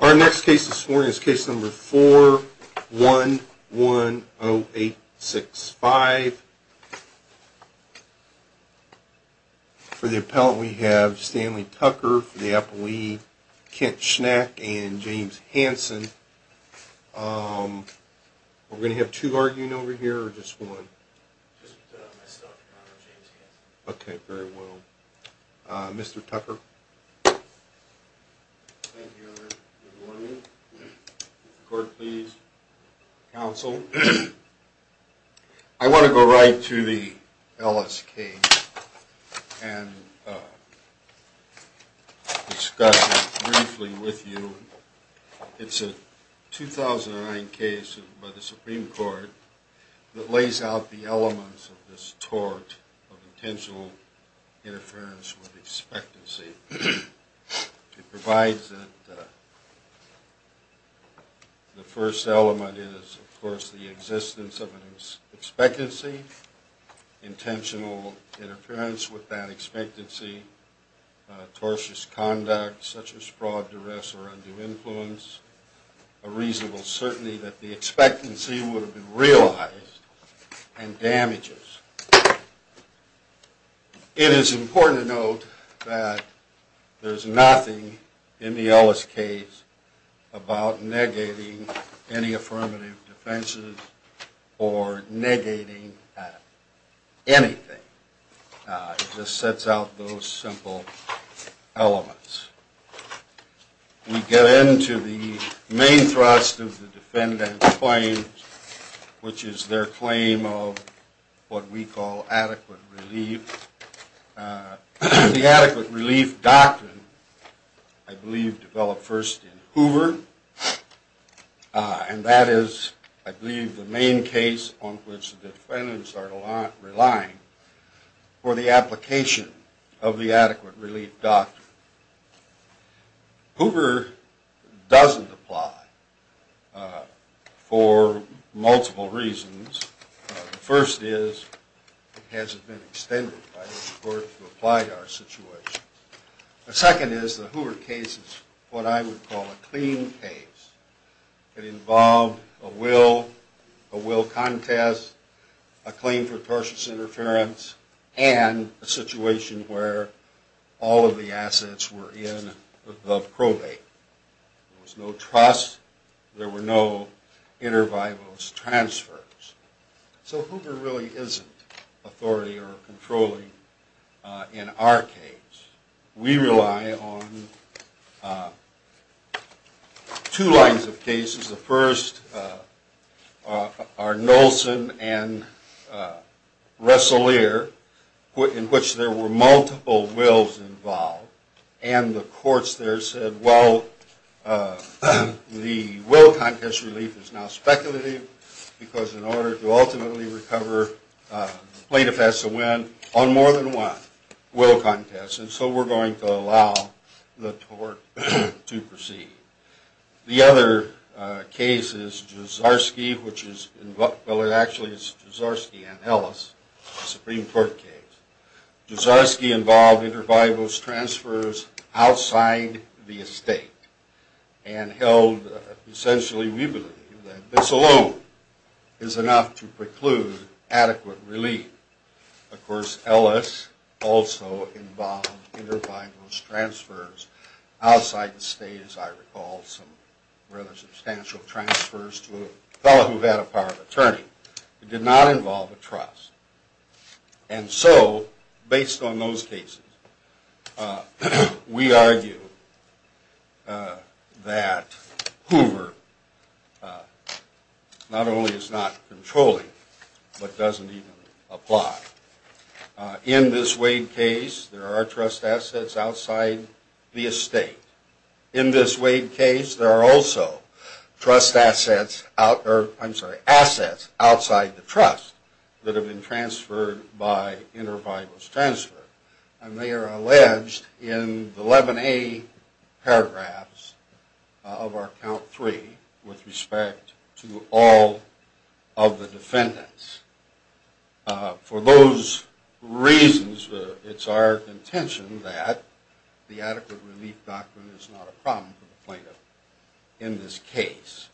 Our next case this morning is case number 4-1-1-0-8-6-5. For the appellant we have Stanley Tucker for the appellee, Kent Schnack, and James Hanson. Are we going to have two arguing over here or just one? Just my stuff and James Hanson. Okay, very well. Mr. Tucker. Thank you, Your Honor. Good morning. Court, please. Counsel. I want to go right to the LS case and discuss it briefly with you. It's a 2009 case by the Supreme Court that lays out the elements of this tort of intentional interference with expectancy. It provides that the first element is, of course, the existence of an expectancy, intentional interference with that expectancy, tortious conduct such as fraud, duress, or undue influence, a reasonable certainty that the expectancy would have been realized, and damages. It is important to note that there is nothing in the LS case about negating any affirmative defenses or negating anything. It just sets out those simple elements. We get into the main thrust of the defendant's claims, which is their claim of what we call adequate relief. The adequate relief doctrine, I believe, developed first in Hoover. And that is, I believe, the main case on which the defendants are relying for the application of the adequate relief doctrine. Hoover doesn't apply for multiple reasons. The first is, it hasn't been extended by the court to apply to our situation. The second is, the Hoover case is what I would call a clean case. It involved a will, a will contest, a claim for tortious interference, and a situation where all of the assets were in above probate. There was no trust. There were no inter vivos transfers. So Hoover really isn't authority or controlling in our case. We rely on two lines of cases. The first are Nolson and Resselier, in which there were multiple wills involved. And the courts there said, well, the will contest relief is now speculative, because in order to ultimately recover, plaintiff has to win on more than one will contest. And so we're going to allow the tort to proceed. The other case is Jouzarski, which is, well, it actually is Jouzarski and Ellis, a Supreme Court case. Jouzarski involved inter vivos transfers outside the estate and held, essentially, we believe that this alone is enough to preclude adequate relief. Of course, Ellis also involved inter vivos transfers outside the state, as I recall, some rather substantial transfers to a fellow who had a power of attorney. It did not involve a trust. And so based on those cases, we argue that Hoover not only is not controlling, but doesn't even apply. In this Wade case, there are trust assets outside the estate. In this Wade case, there are also assets outside the trust that have been transferred by inter vivos transfer. And they are alleged in the 11A paragraphs of our count three with respect to all of the defendants. For those reasons, it's our intention that the adequate relief doctrine is not a problem for the plaintiff in this case.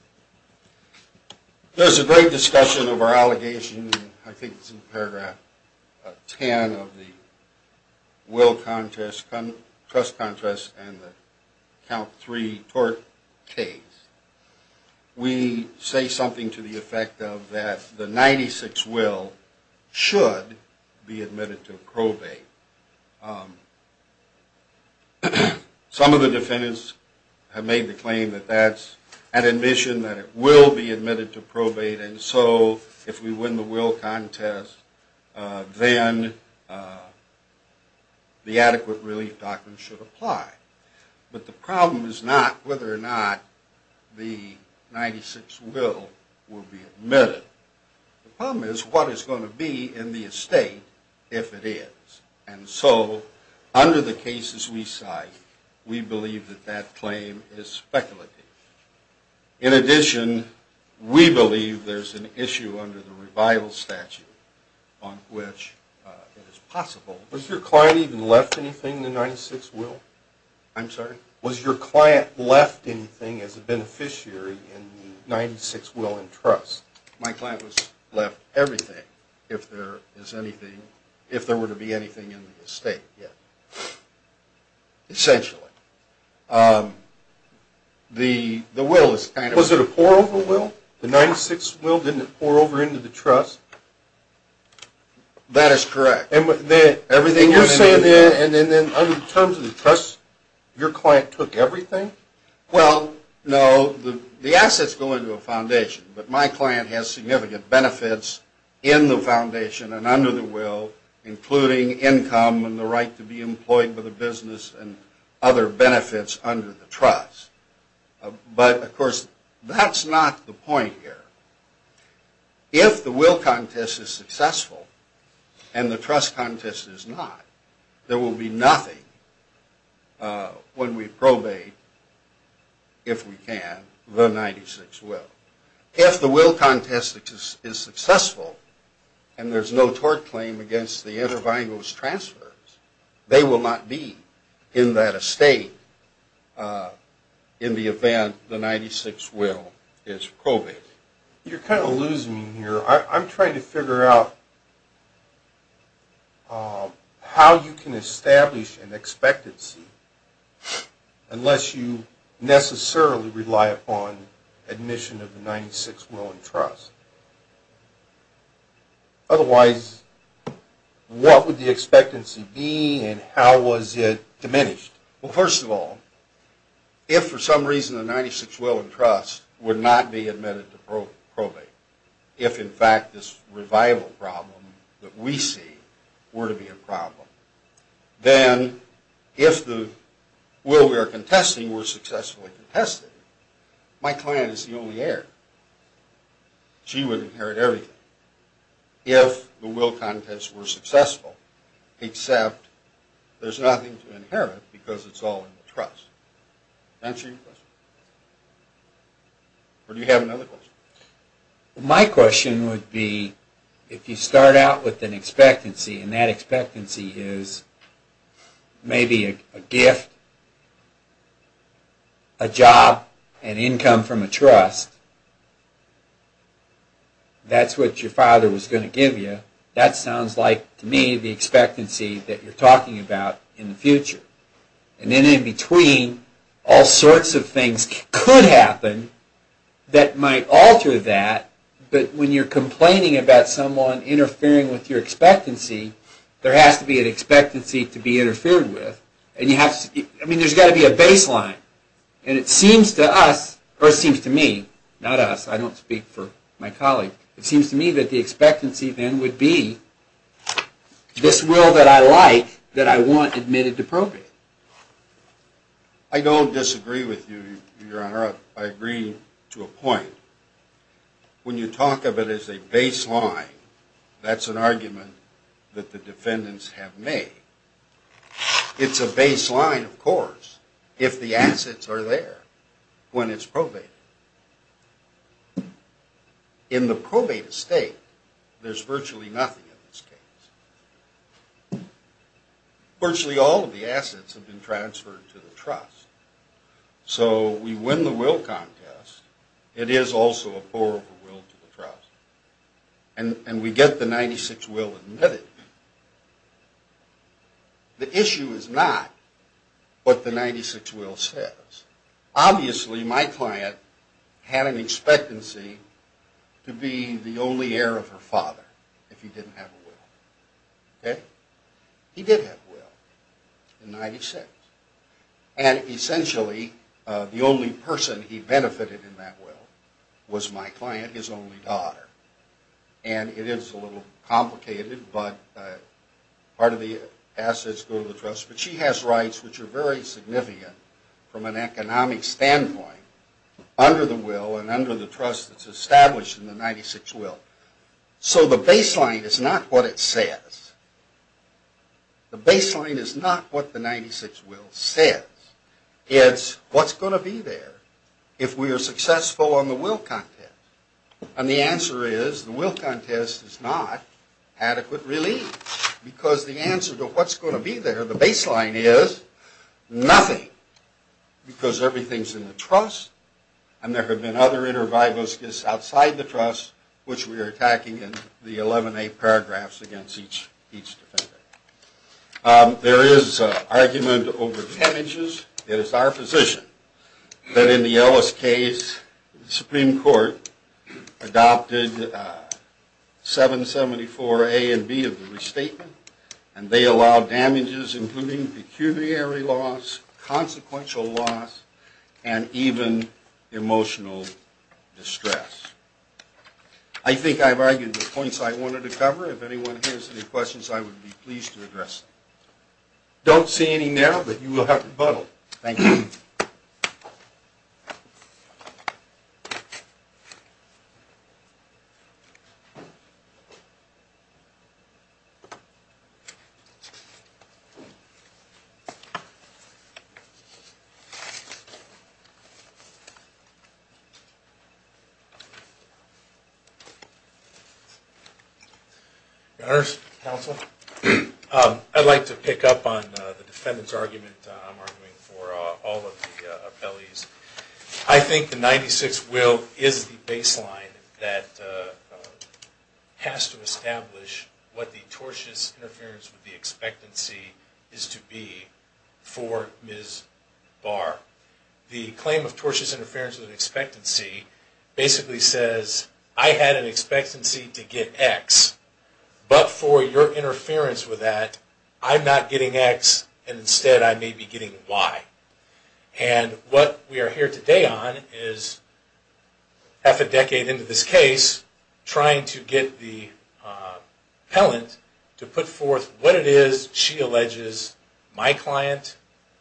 There's a great discussion of our allegation. I think it's in paragraph 10 of the will contest, trust contest, and the count three tort case. We say something to the effect of that the 96 will should be admitted to probate. Some of the defendants have made the claim that that's an admission that it will be admitted to probate. And so if we win the will contest, then the adequate relief doctrine should apply. But the problem is not whether or not the 96 will will be admitted. The problem is what is going to be in the estate if it is. And so under the cases we cite, we believe that that claim is speculative. In addition, we believe there's an issue under the revival statute on which it is possible. Was your client even left anything in the 96 will? I'm sorry? Was your client left anything as a beneficiary in the 96 will and trust? My client was left everything if there is anything, if there were to be anything in the estate. Yeah. Essentially. The will is kind of... Was it a pour over will? The 96 will didn't pour over into the trust? That is correct. You're saying that in terms of the trust, your client took everything? Well, no. The assets go into a foundation. But my client has significant benefits in the foundation and under the will, including income and the right to be employed with a business and other benefits under the trust. But, of course, that's not the point here. If the will contest is successful and the trust contest is not, there will be nothing when we probate, if we can, the 96 will. If the will contest is successful and there's no tort claim against the intervangos transfers, they will not be in that estate in the event the 96 will is probated. You're kind of losing me here. I'm trying to figure out how you can establish an expectancy unless you necessarily rely upon admission of the 96 will and trust. Otherwise, what would the expectancy be and how was it diminished? Well, first of all, if for some reason the 96 will and trust would not be admitted to probate, if in fact this revival problem that we see were to be a problem, then if the will we are contesting were successfully contested, my client is the only heir. She would inherit everything if the will contest were successful, except there's nothing to inherit because it's all in the trust. Does that answer your question? Or do you have another question? My question would be if you start out with an expectancy and that expectancy is maybe a gift, a job, an income from a trust, that's what your father was going to give you, that sounds like, to me, the expectancy that you're talking about in the future. And then in between, all sorts of things could happen that might alter that, but when you're complaining about someone interfering with your expectancy, there has to be an expectancy to be interfered with. I mean, there's got to be a baseline. And it seems to us, or it seems to me, not us, I don't speak for my colleague, it seems to me that the expectancy then would be this will that I like, that I want admitted to probate. I don't disagree with you, Your Honor. I agree to a point. When you talk of it as a baseline, that's an argument that the defendants have made. It's a baseline, of course, if the assets are there when it's probated. In the probated state, there's virtually nothing in this case. Virtually all of the assets have been transferred to the trust. So we win the will contest. It is also a pour-over will to the trust. And we get the 96-will admitted. The issue is not what the 96-will says. Obviously, my client had an expectancy to be the only heir of her father if he didn't have a will. He did have a will in 96. And essentially, the only person he benefited in that will was my client, his only daughter. And it is a little complicated, but part of the assets go to the trust. But she has rights which are very significant from an economic standpoint under the will and under the trust that's established in the 96-will. So the baseline is not what it says. The baseline is not what the 96-will says. It's what's going to be there if we are successful on the will contest. And the answer is the will contest is not adequate relief because the answer to what's going to be there, the baseline is nothing because everything's in the trust and there have been other intervivals just outside the trust which we are attacking in the 11A paragraphs against each defender. There is argument over damages. It is our position that in the Ellis case, the Supreme Court adopted 774A and B of the restatement, and they allowed damages including pecuniary loss, consequential loss, and even emotional distress. I think I've argued the points I wanted to cover. If anyone has any questions, I would be pleased to address them. I don't see any now, but you will have rebuttal. Thank you. Your Honors, Counsel, I'd like to pick up on the defendant's argument I'm arguing for all of the appellees. I think the 96 will is the baseline that has to establish what the tortious interference with the expectancy is to be for Ms. Barr. The claim of tortious interference with expectancy basically says, I had an expectancy to get X, but for your interference with that, I'm not getting X, and instead I may be getting Y. What we are here today on is half a decade into this case, trying to get the appellant to put forth what it is she alleges my client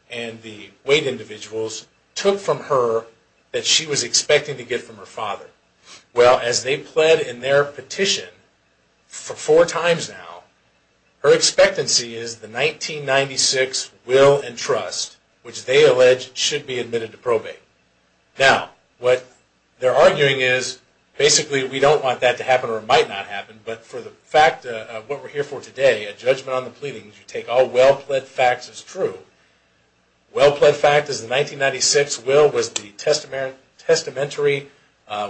and the weight individuals took from her that she was expecting to get from her father. Well, as they pled in their petition for four times now, her expectancy is the 1996 will and trust, which they allege should be admitted to probate. Now, what they're arguing is basically we don't want that to happen or it might not happen, but for the fact of what we're here for today, a judgment on the pleadings, you take all well-pled facts as true. Well-pled fact is the 1996 will was the testamentary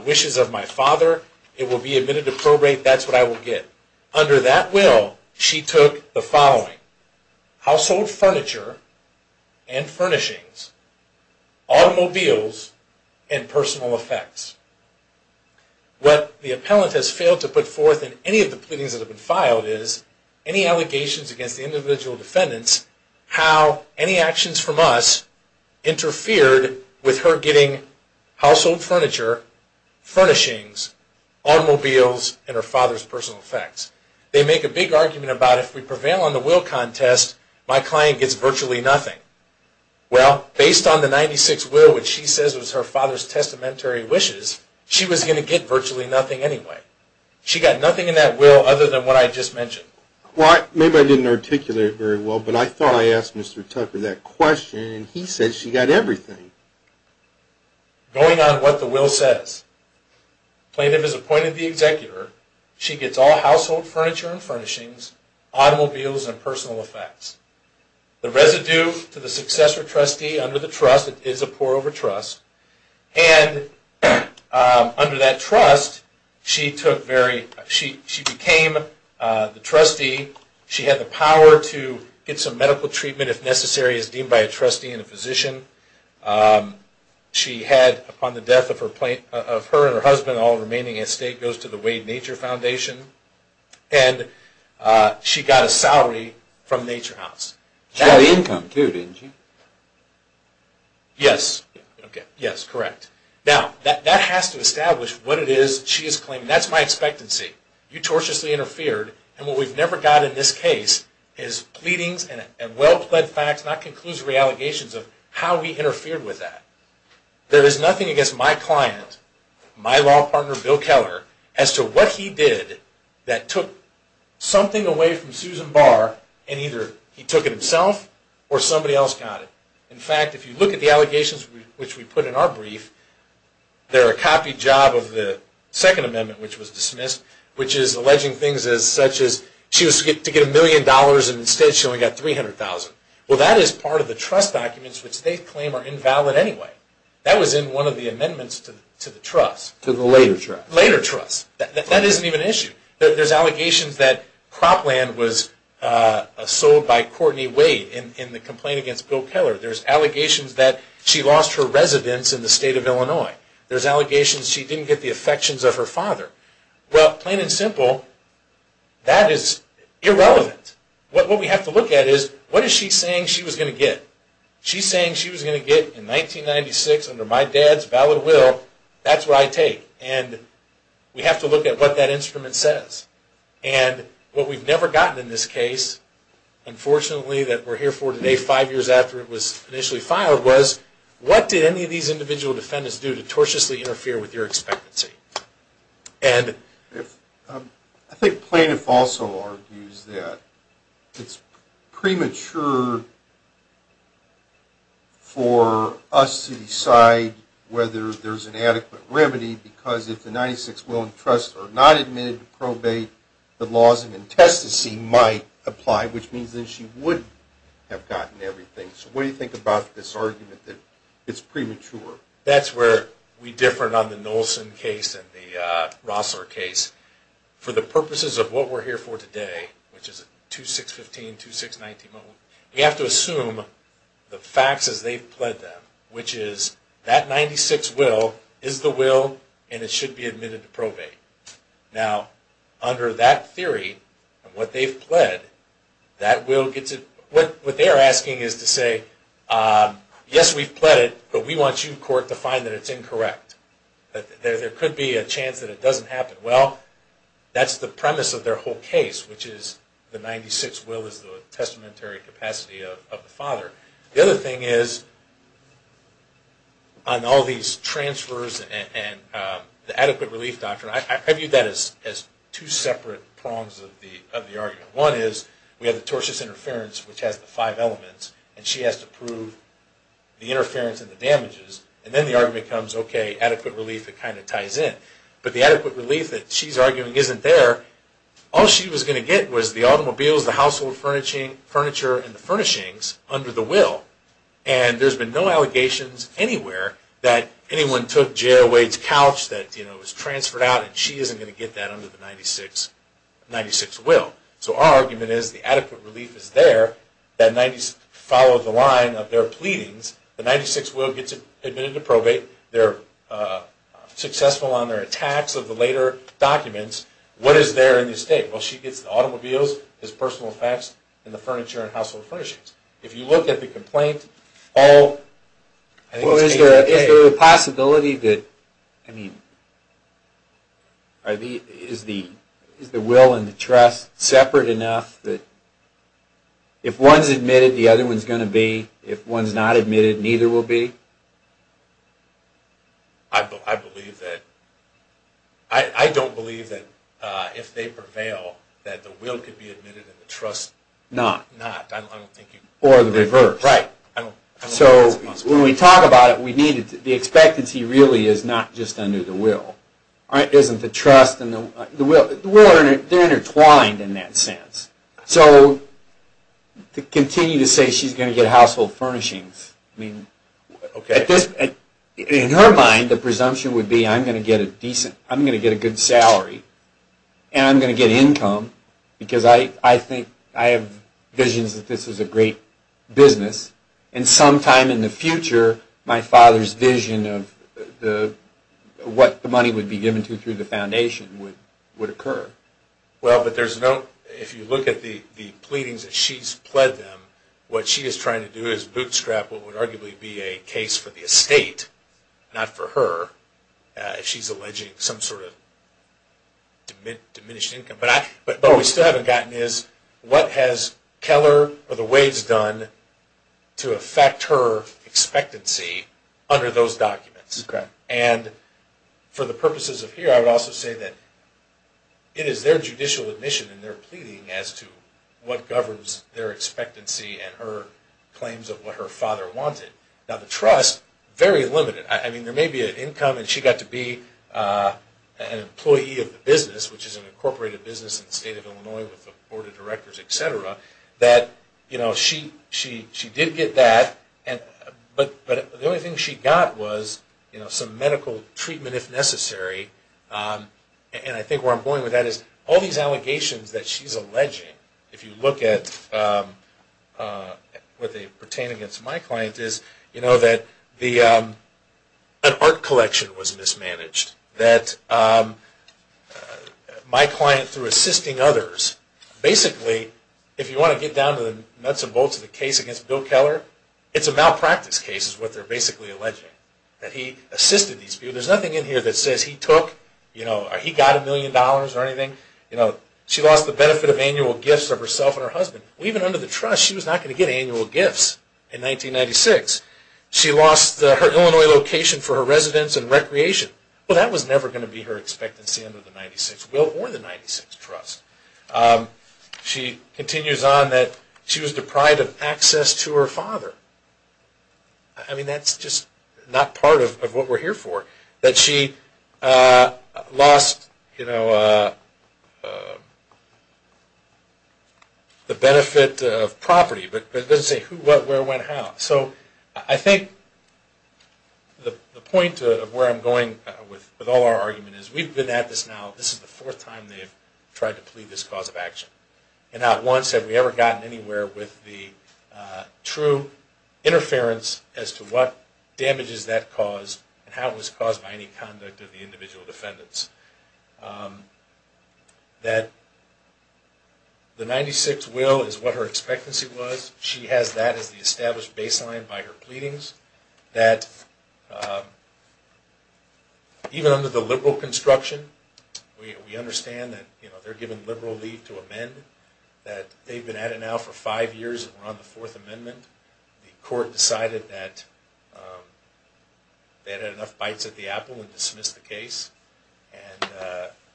wishes of my father. It will be admitted to probate. That's what I will get. Under that will, she took the following. Household furniture and furnishings, automobiles, and personal effects. What the appellant has failed to put forth in any of the pleadings that have been filed is any allegations against the individual defendants, how any actions from us interfered with her getting household furniture, furnishings, automobiles, and her father's personal effects. They make a big argument about if we prevail on the will contest, my client gets virtually nothing. Well, based on the 1996 will, which she says was her father's testamentary wishes, she was going to get virtually nothing anyway. She got nothing in that will other than what I just mentioned. Well, maybe I didn't articulate it very well, but I thought I asked Mr. Tucker that question, and he said she got everything. Going on what the will says. Plaintiff has appointed the executor. She gets all household furniture and furnishings, automobiles, and personal effects. The residue to the successor trustee under the trust is a poor overtrust. And under that trust, she became the trustee. She had the power to get some medical treatment if necessary, as deemed by a trustee and a physician. She had, upon the death of her and her husband, all remaining estate goes to the Wade Nature Foundation. And she got a salary from Nature House. She got income too, didn't she? Yes. Yes, correct. Now, that has to establish what it is she is claiming. That's my expectancy. You tortiously interfered, and what we've never got in this case is pleadings and well-pled facts, not conclusory allegations of how we interfered with that. There is nothing against my client, my law partner Bill Keller, as to what he did that took something away from Susan Barr, and either he took it himself or somebody else got it. In fact, if you look at the allegations which we put in our brief, they're a copied job of the Second Amendment, which was dismissed, which is alleging things such as she was to get a million dollars, and instead she only got $300,000. Well, that is part of the trust documents which they claim are invalid anyway. That was in one of the amendments to the trust. To the later trust. Later trust. That isn't even an issue. There's allegations that cropland was sold by Courtney Wade in the complaint against Bill Keller. There's allegations that she lost her residence in the state of Illinois. There's allegations she didn't get the affections of her father. Well, plain and simple, that is irrelevant. What we have to look at is what is she saying she was going to get? She's saying she was going to get in 1996 under my dad's valid will, that's what I take. And we have to look at what that instrument says. And what we've never gotten in this case, unfortunately that we're here for today, five years after it was initially fired, was what did any of these individual defendants do to tortiously interfere with your expectancy? I think plaintiff also argues that it's premature for us to decide whether there's an adequate remedy, because if the 96 will and trust are not admitted to probate, the laws of intestacy might apply, which means that she would have gotten everything. So what do you think about this argument that it's premature? That's where we differ on the Nolson case and the Rossler case. For the purposes of what we're here for today, which is a 2-6-15, 2-6-19 moment, we have to assume the facts as they've pled them, which is that 96 will is the will and it should be admitted to probate. Now, under that theory and what they've pled, what they're asking is to say, yes, we've pled it, but we want you, court, to find that it's incorrect. There could be a chance that it doesn't happen. Well, that's the premise of their whole case, which is the 96 will is the testamentary capacity of the father. The other thing is, on all these transfers and the adequate relief doctrine, I view that as two separate prongs of the argument. One is we have the tortious interference, which has the five elements, and she has to prove the interference and the damages. And then the argument becomes, okay, adequate relief, it kind of ties in. But the adequate relief that she's arguing isn't there. All she was going to get was the automobiles, the household furniture, and the furnishings under the will. And there's been no allegations anywhere that anyone took J.L. Wade's couch that was transferred out, and she isn't going to get that under the 96 will. So our argument is the adequate relief is there. That 90s followed the line of their pleadings. The 96 will gets admitted to probate. They're successful on their attacks of the later documents. What is there in the estate? Well, she gets the automobiles, his personal effects, and the furniture and household furnishings. If you look at the complaint, all I think is A and K. Well, is there a possibility that, I mean, is the will and the trust separate enough that if one's admitted, the other one's going to be? If one's not admitted, neither will be? I believe that. I don't believe that if they prevail, that the will could be admitted and the trust not. Or the reverse. Right. So when we talk about it, the expectancy really is not just under the will. It isn't the trust and the will. The will, they're intertwined in that sense. So to continue to say she's going to get household furnishings, I mean, in her mind, the presumption would be I'm going to get a decent, I'm going to get a good salary, and I'm going to get income, because I think, I have visions that this is a great business. And sometime in the future, my father's vision of what the money would be given to through the foundation would occur. Well, but there's no, if you look at the pleadings that she's pled them, what she is trying to do is bootstrap what would arguably be a case for the estate, not for her, if she's alleging some sort of diminished income. But what we still haven't gotten is what has Keller or the Wades done to affect her expectancy under those documents? Correct. And for the purposes of here, I would also say that it is their judicial admission in their pleading as to what governs their expectancy and her claims of what her father wanted. Now, the trust, very limited. I mean, there may be an income, and she got to be an employee of the business, which is an incorporated business in the state of Illinois with the board of directors, et cetera, that, you know, she did get that. But the only thing she got was, you know, some medical treatment if necessary, and I think where I'm going with that is all these allegations that she's alleging, if you look at what they pertain against my client, is, you know, that an art collection was mismanaged. That my client, through assisting others, basically, if you want to get down to the nuts and bolts of the case against Bill Keller, it's a malpractice case is what they're basically alleging, that he assisted these people. There's nothing in here that says he took, you know, he got a million dollars or anything. You know, she lost the benefit of annual gifts of herself and her husband. Even under the trust, she was not going to get annual gifts in 1996. She lost her Illinois location for her residence and recreation. Well, that was never going to be her expectancy under the 96, or the 96 trust. She continues on that she was deprived of access to her father. I mean, that's just not part of what we're here for. That she lost, you know, the benefit of property. But it doesn't say who, what, where, when, how. So, I think the point of where I'm going with all our argument is, we've been at this now, this is the fourth time they've tried to plead this cause of action. And not once have we ever gotten anywhere with the true interference as to what damages that cause and how it was caused by any conduct of the individual defendants. That the 96 will is what her expectancy was. She has that as the established baseline by her pleadings. That even under the liberal construction, we understand that they're given liberal leave to amend. That they've been at it now for five years and we're on the fourth amendment. The court decided that they had enough bites at the apple and dismissed the case. And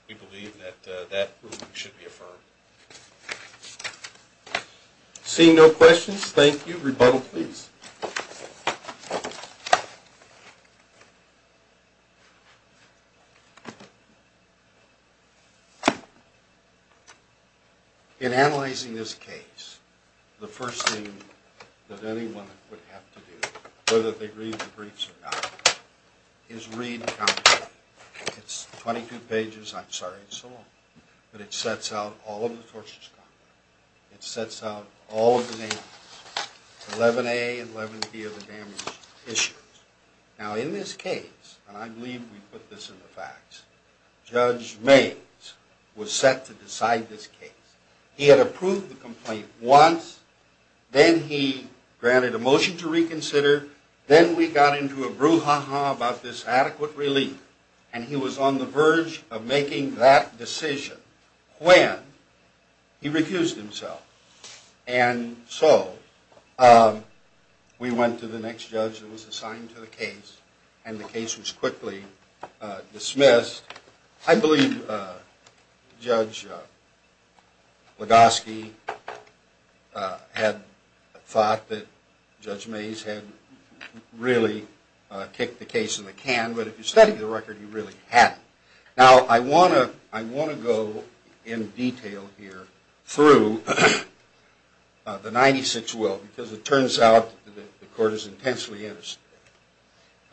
we believe that that ruling should be affirmed. Seeing no questions, thank you. Rebuttal, please. In analyzing this case, the first thing that anyone would have to do, whether they read the briefs or not, is read Compton. It's 22 pages, I'm sorry, it's so long. But it sets out all of the tortures done. It sets out all of the damages. 11A and 11B are the damage issues. Now in this case, and I believe we put this in the facts, Judge Mays was set to decide this case. He had approved the complaint once, then he granted a motion to reconsider, then we got into a brouhaha about this adequate relief. And he was on the verge of making that decision when he recused himself and so we went to the next judge that was assigned to the case and the case was quickly dismissed. I believe Judge Legoski had thought that Judge Mays had really kicked the case in the can, but if you study the record, he really hadn't. Now I want to go in detail here through the 96 will because it turns out the court is intensely interested.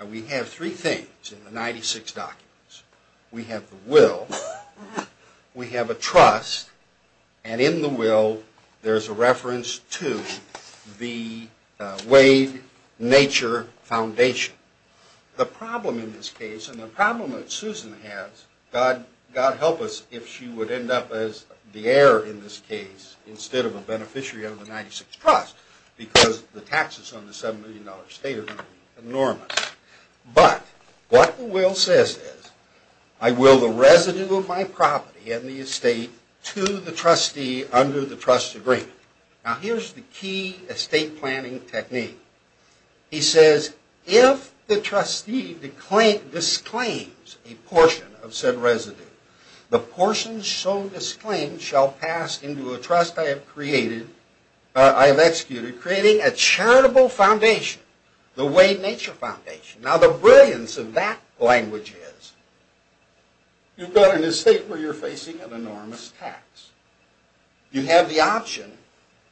We have three things in the 96 documents. We have the will, we have a trust, and in the will there's a reference to the Wade Nature Foundation. The problem in this case, and the problem that Susan has, God help us if she would end up as the heir in this case instead of a beneficiary of the 96 trust because the taxes on the $7 million estate are enormous. But what the will says is, I will the residue of my property and the estate to the trustee under the trust agreement. Now here's the key estate planning technique. He says, if the trustee disclaims a portion of said residue, the portion so disclaimed shall pass into a trust I have created, I have executed, creating a charitable foundation, the Wade Nature Foundation. Now the brilliance of that language is you've got an estate where you're facing an enormous tax. You have the option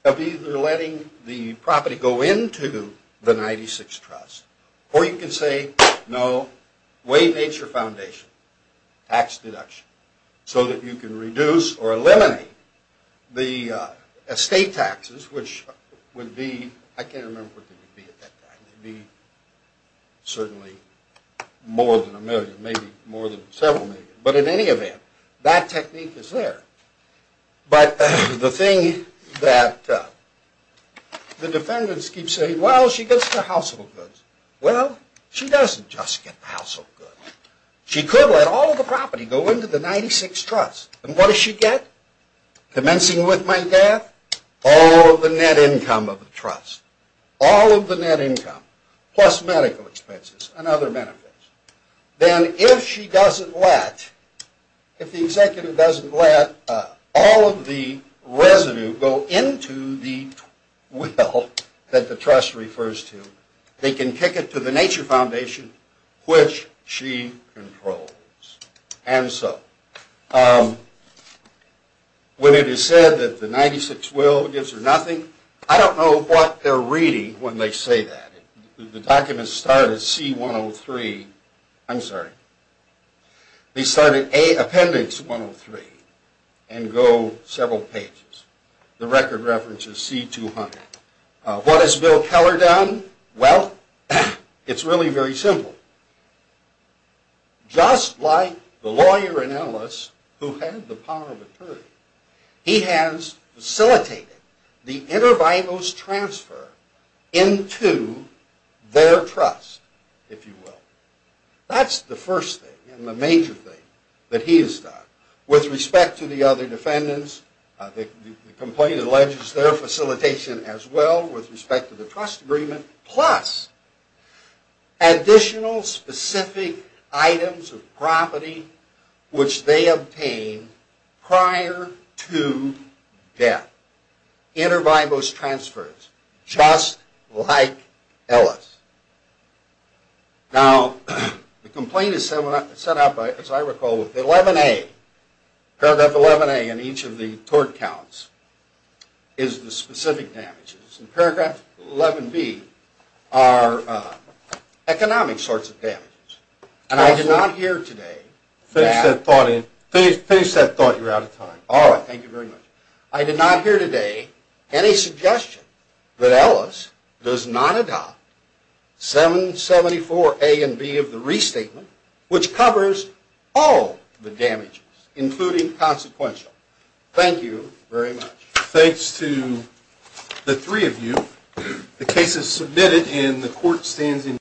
of either letting the property go into the 96 trust, or you can say, no, Wade Nature Foundation, tax deduction, so that you can reduce or eliminate the estate taxes, which would be, I can't remember what they would be at that time, they'd be certainly more than a million, maybe more than several million. But in any event, that technique is there. But the thing that the defendants keep saying, well, she gets the household goods. Well, she doesn't just get the household goods. She could let all of the property go into the 96 trust, and what does she get? Commencing with my death, all of the net income of the trust, all of the net income, plus medical expenses and other benefits. Then if she doesn't let, if the executive doesn't let all of the residue go into the will that the trust refers to, they can kick it to the Nature Foundation, which she controls. And so, when it is said that the 96 will gives her nothing, I don't know what they're reading when they say that. The documents start at C-103. I'm sorry. They start at Appendix 103 and go several pages. The record reference is C-200. What has Bill Keller done? Well, it's really very simple. Just like the lawyer and analyst who had the power of attorney, he has facilitated the intervitals transfer into their trust, if you will. That's the first thing and the major thing that he has done. With respect to the other defendants, the complaint alleges their facilitation as well with respect to the trust agreement, plus additional specific items of property which they obtained prior to death. Intervitals transfers, just like Ellis. Now, the complaint is set up, as I recall, with 11A. Paragraph 11A in each of the tort counts is the specific damages. Paragraph 11B are economic sorts of damages. I did not hear today any suggestion that Ellis does not adopt 774A and B of the restatement, which covers all the damages, including consequential. Thank you very much. Thanks to the three of you. The case is submitted and the court stands in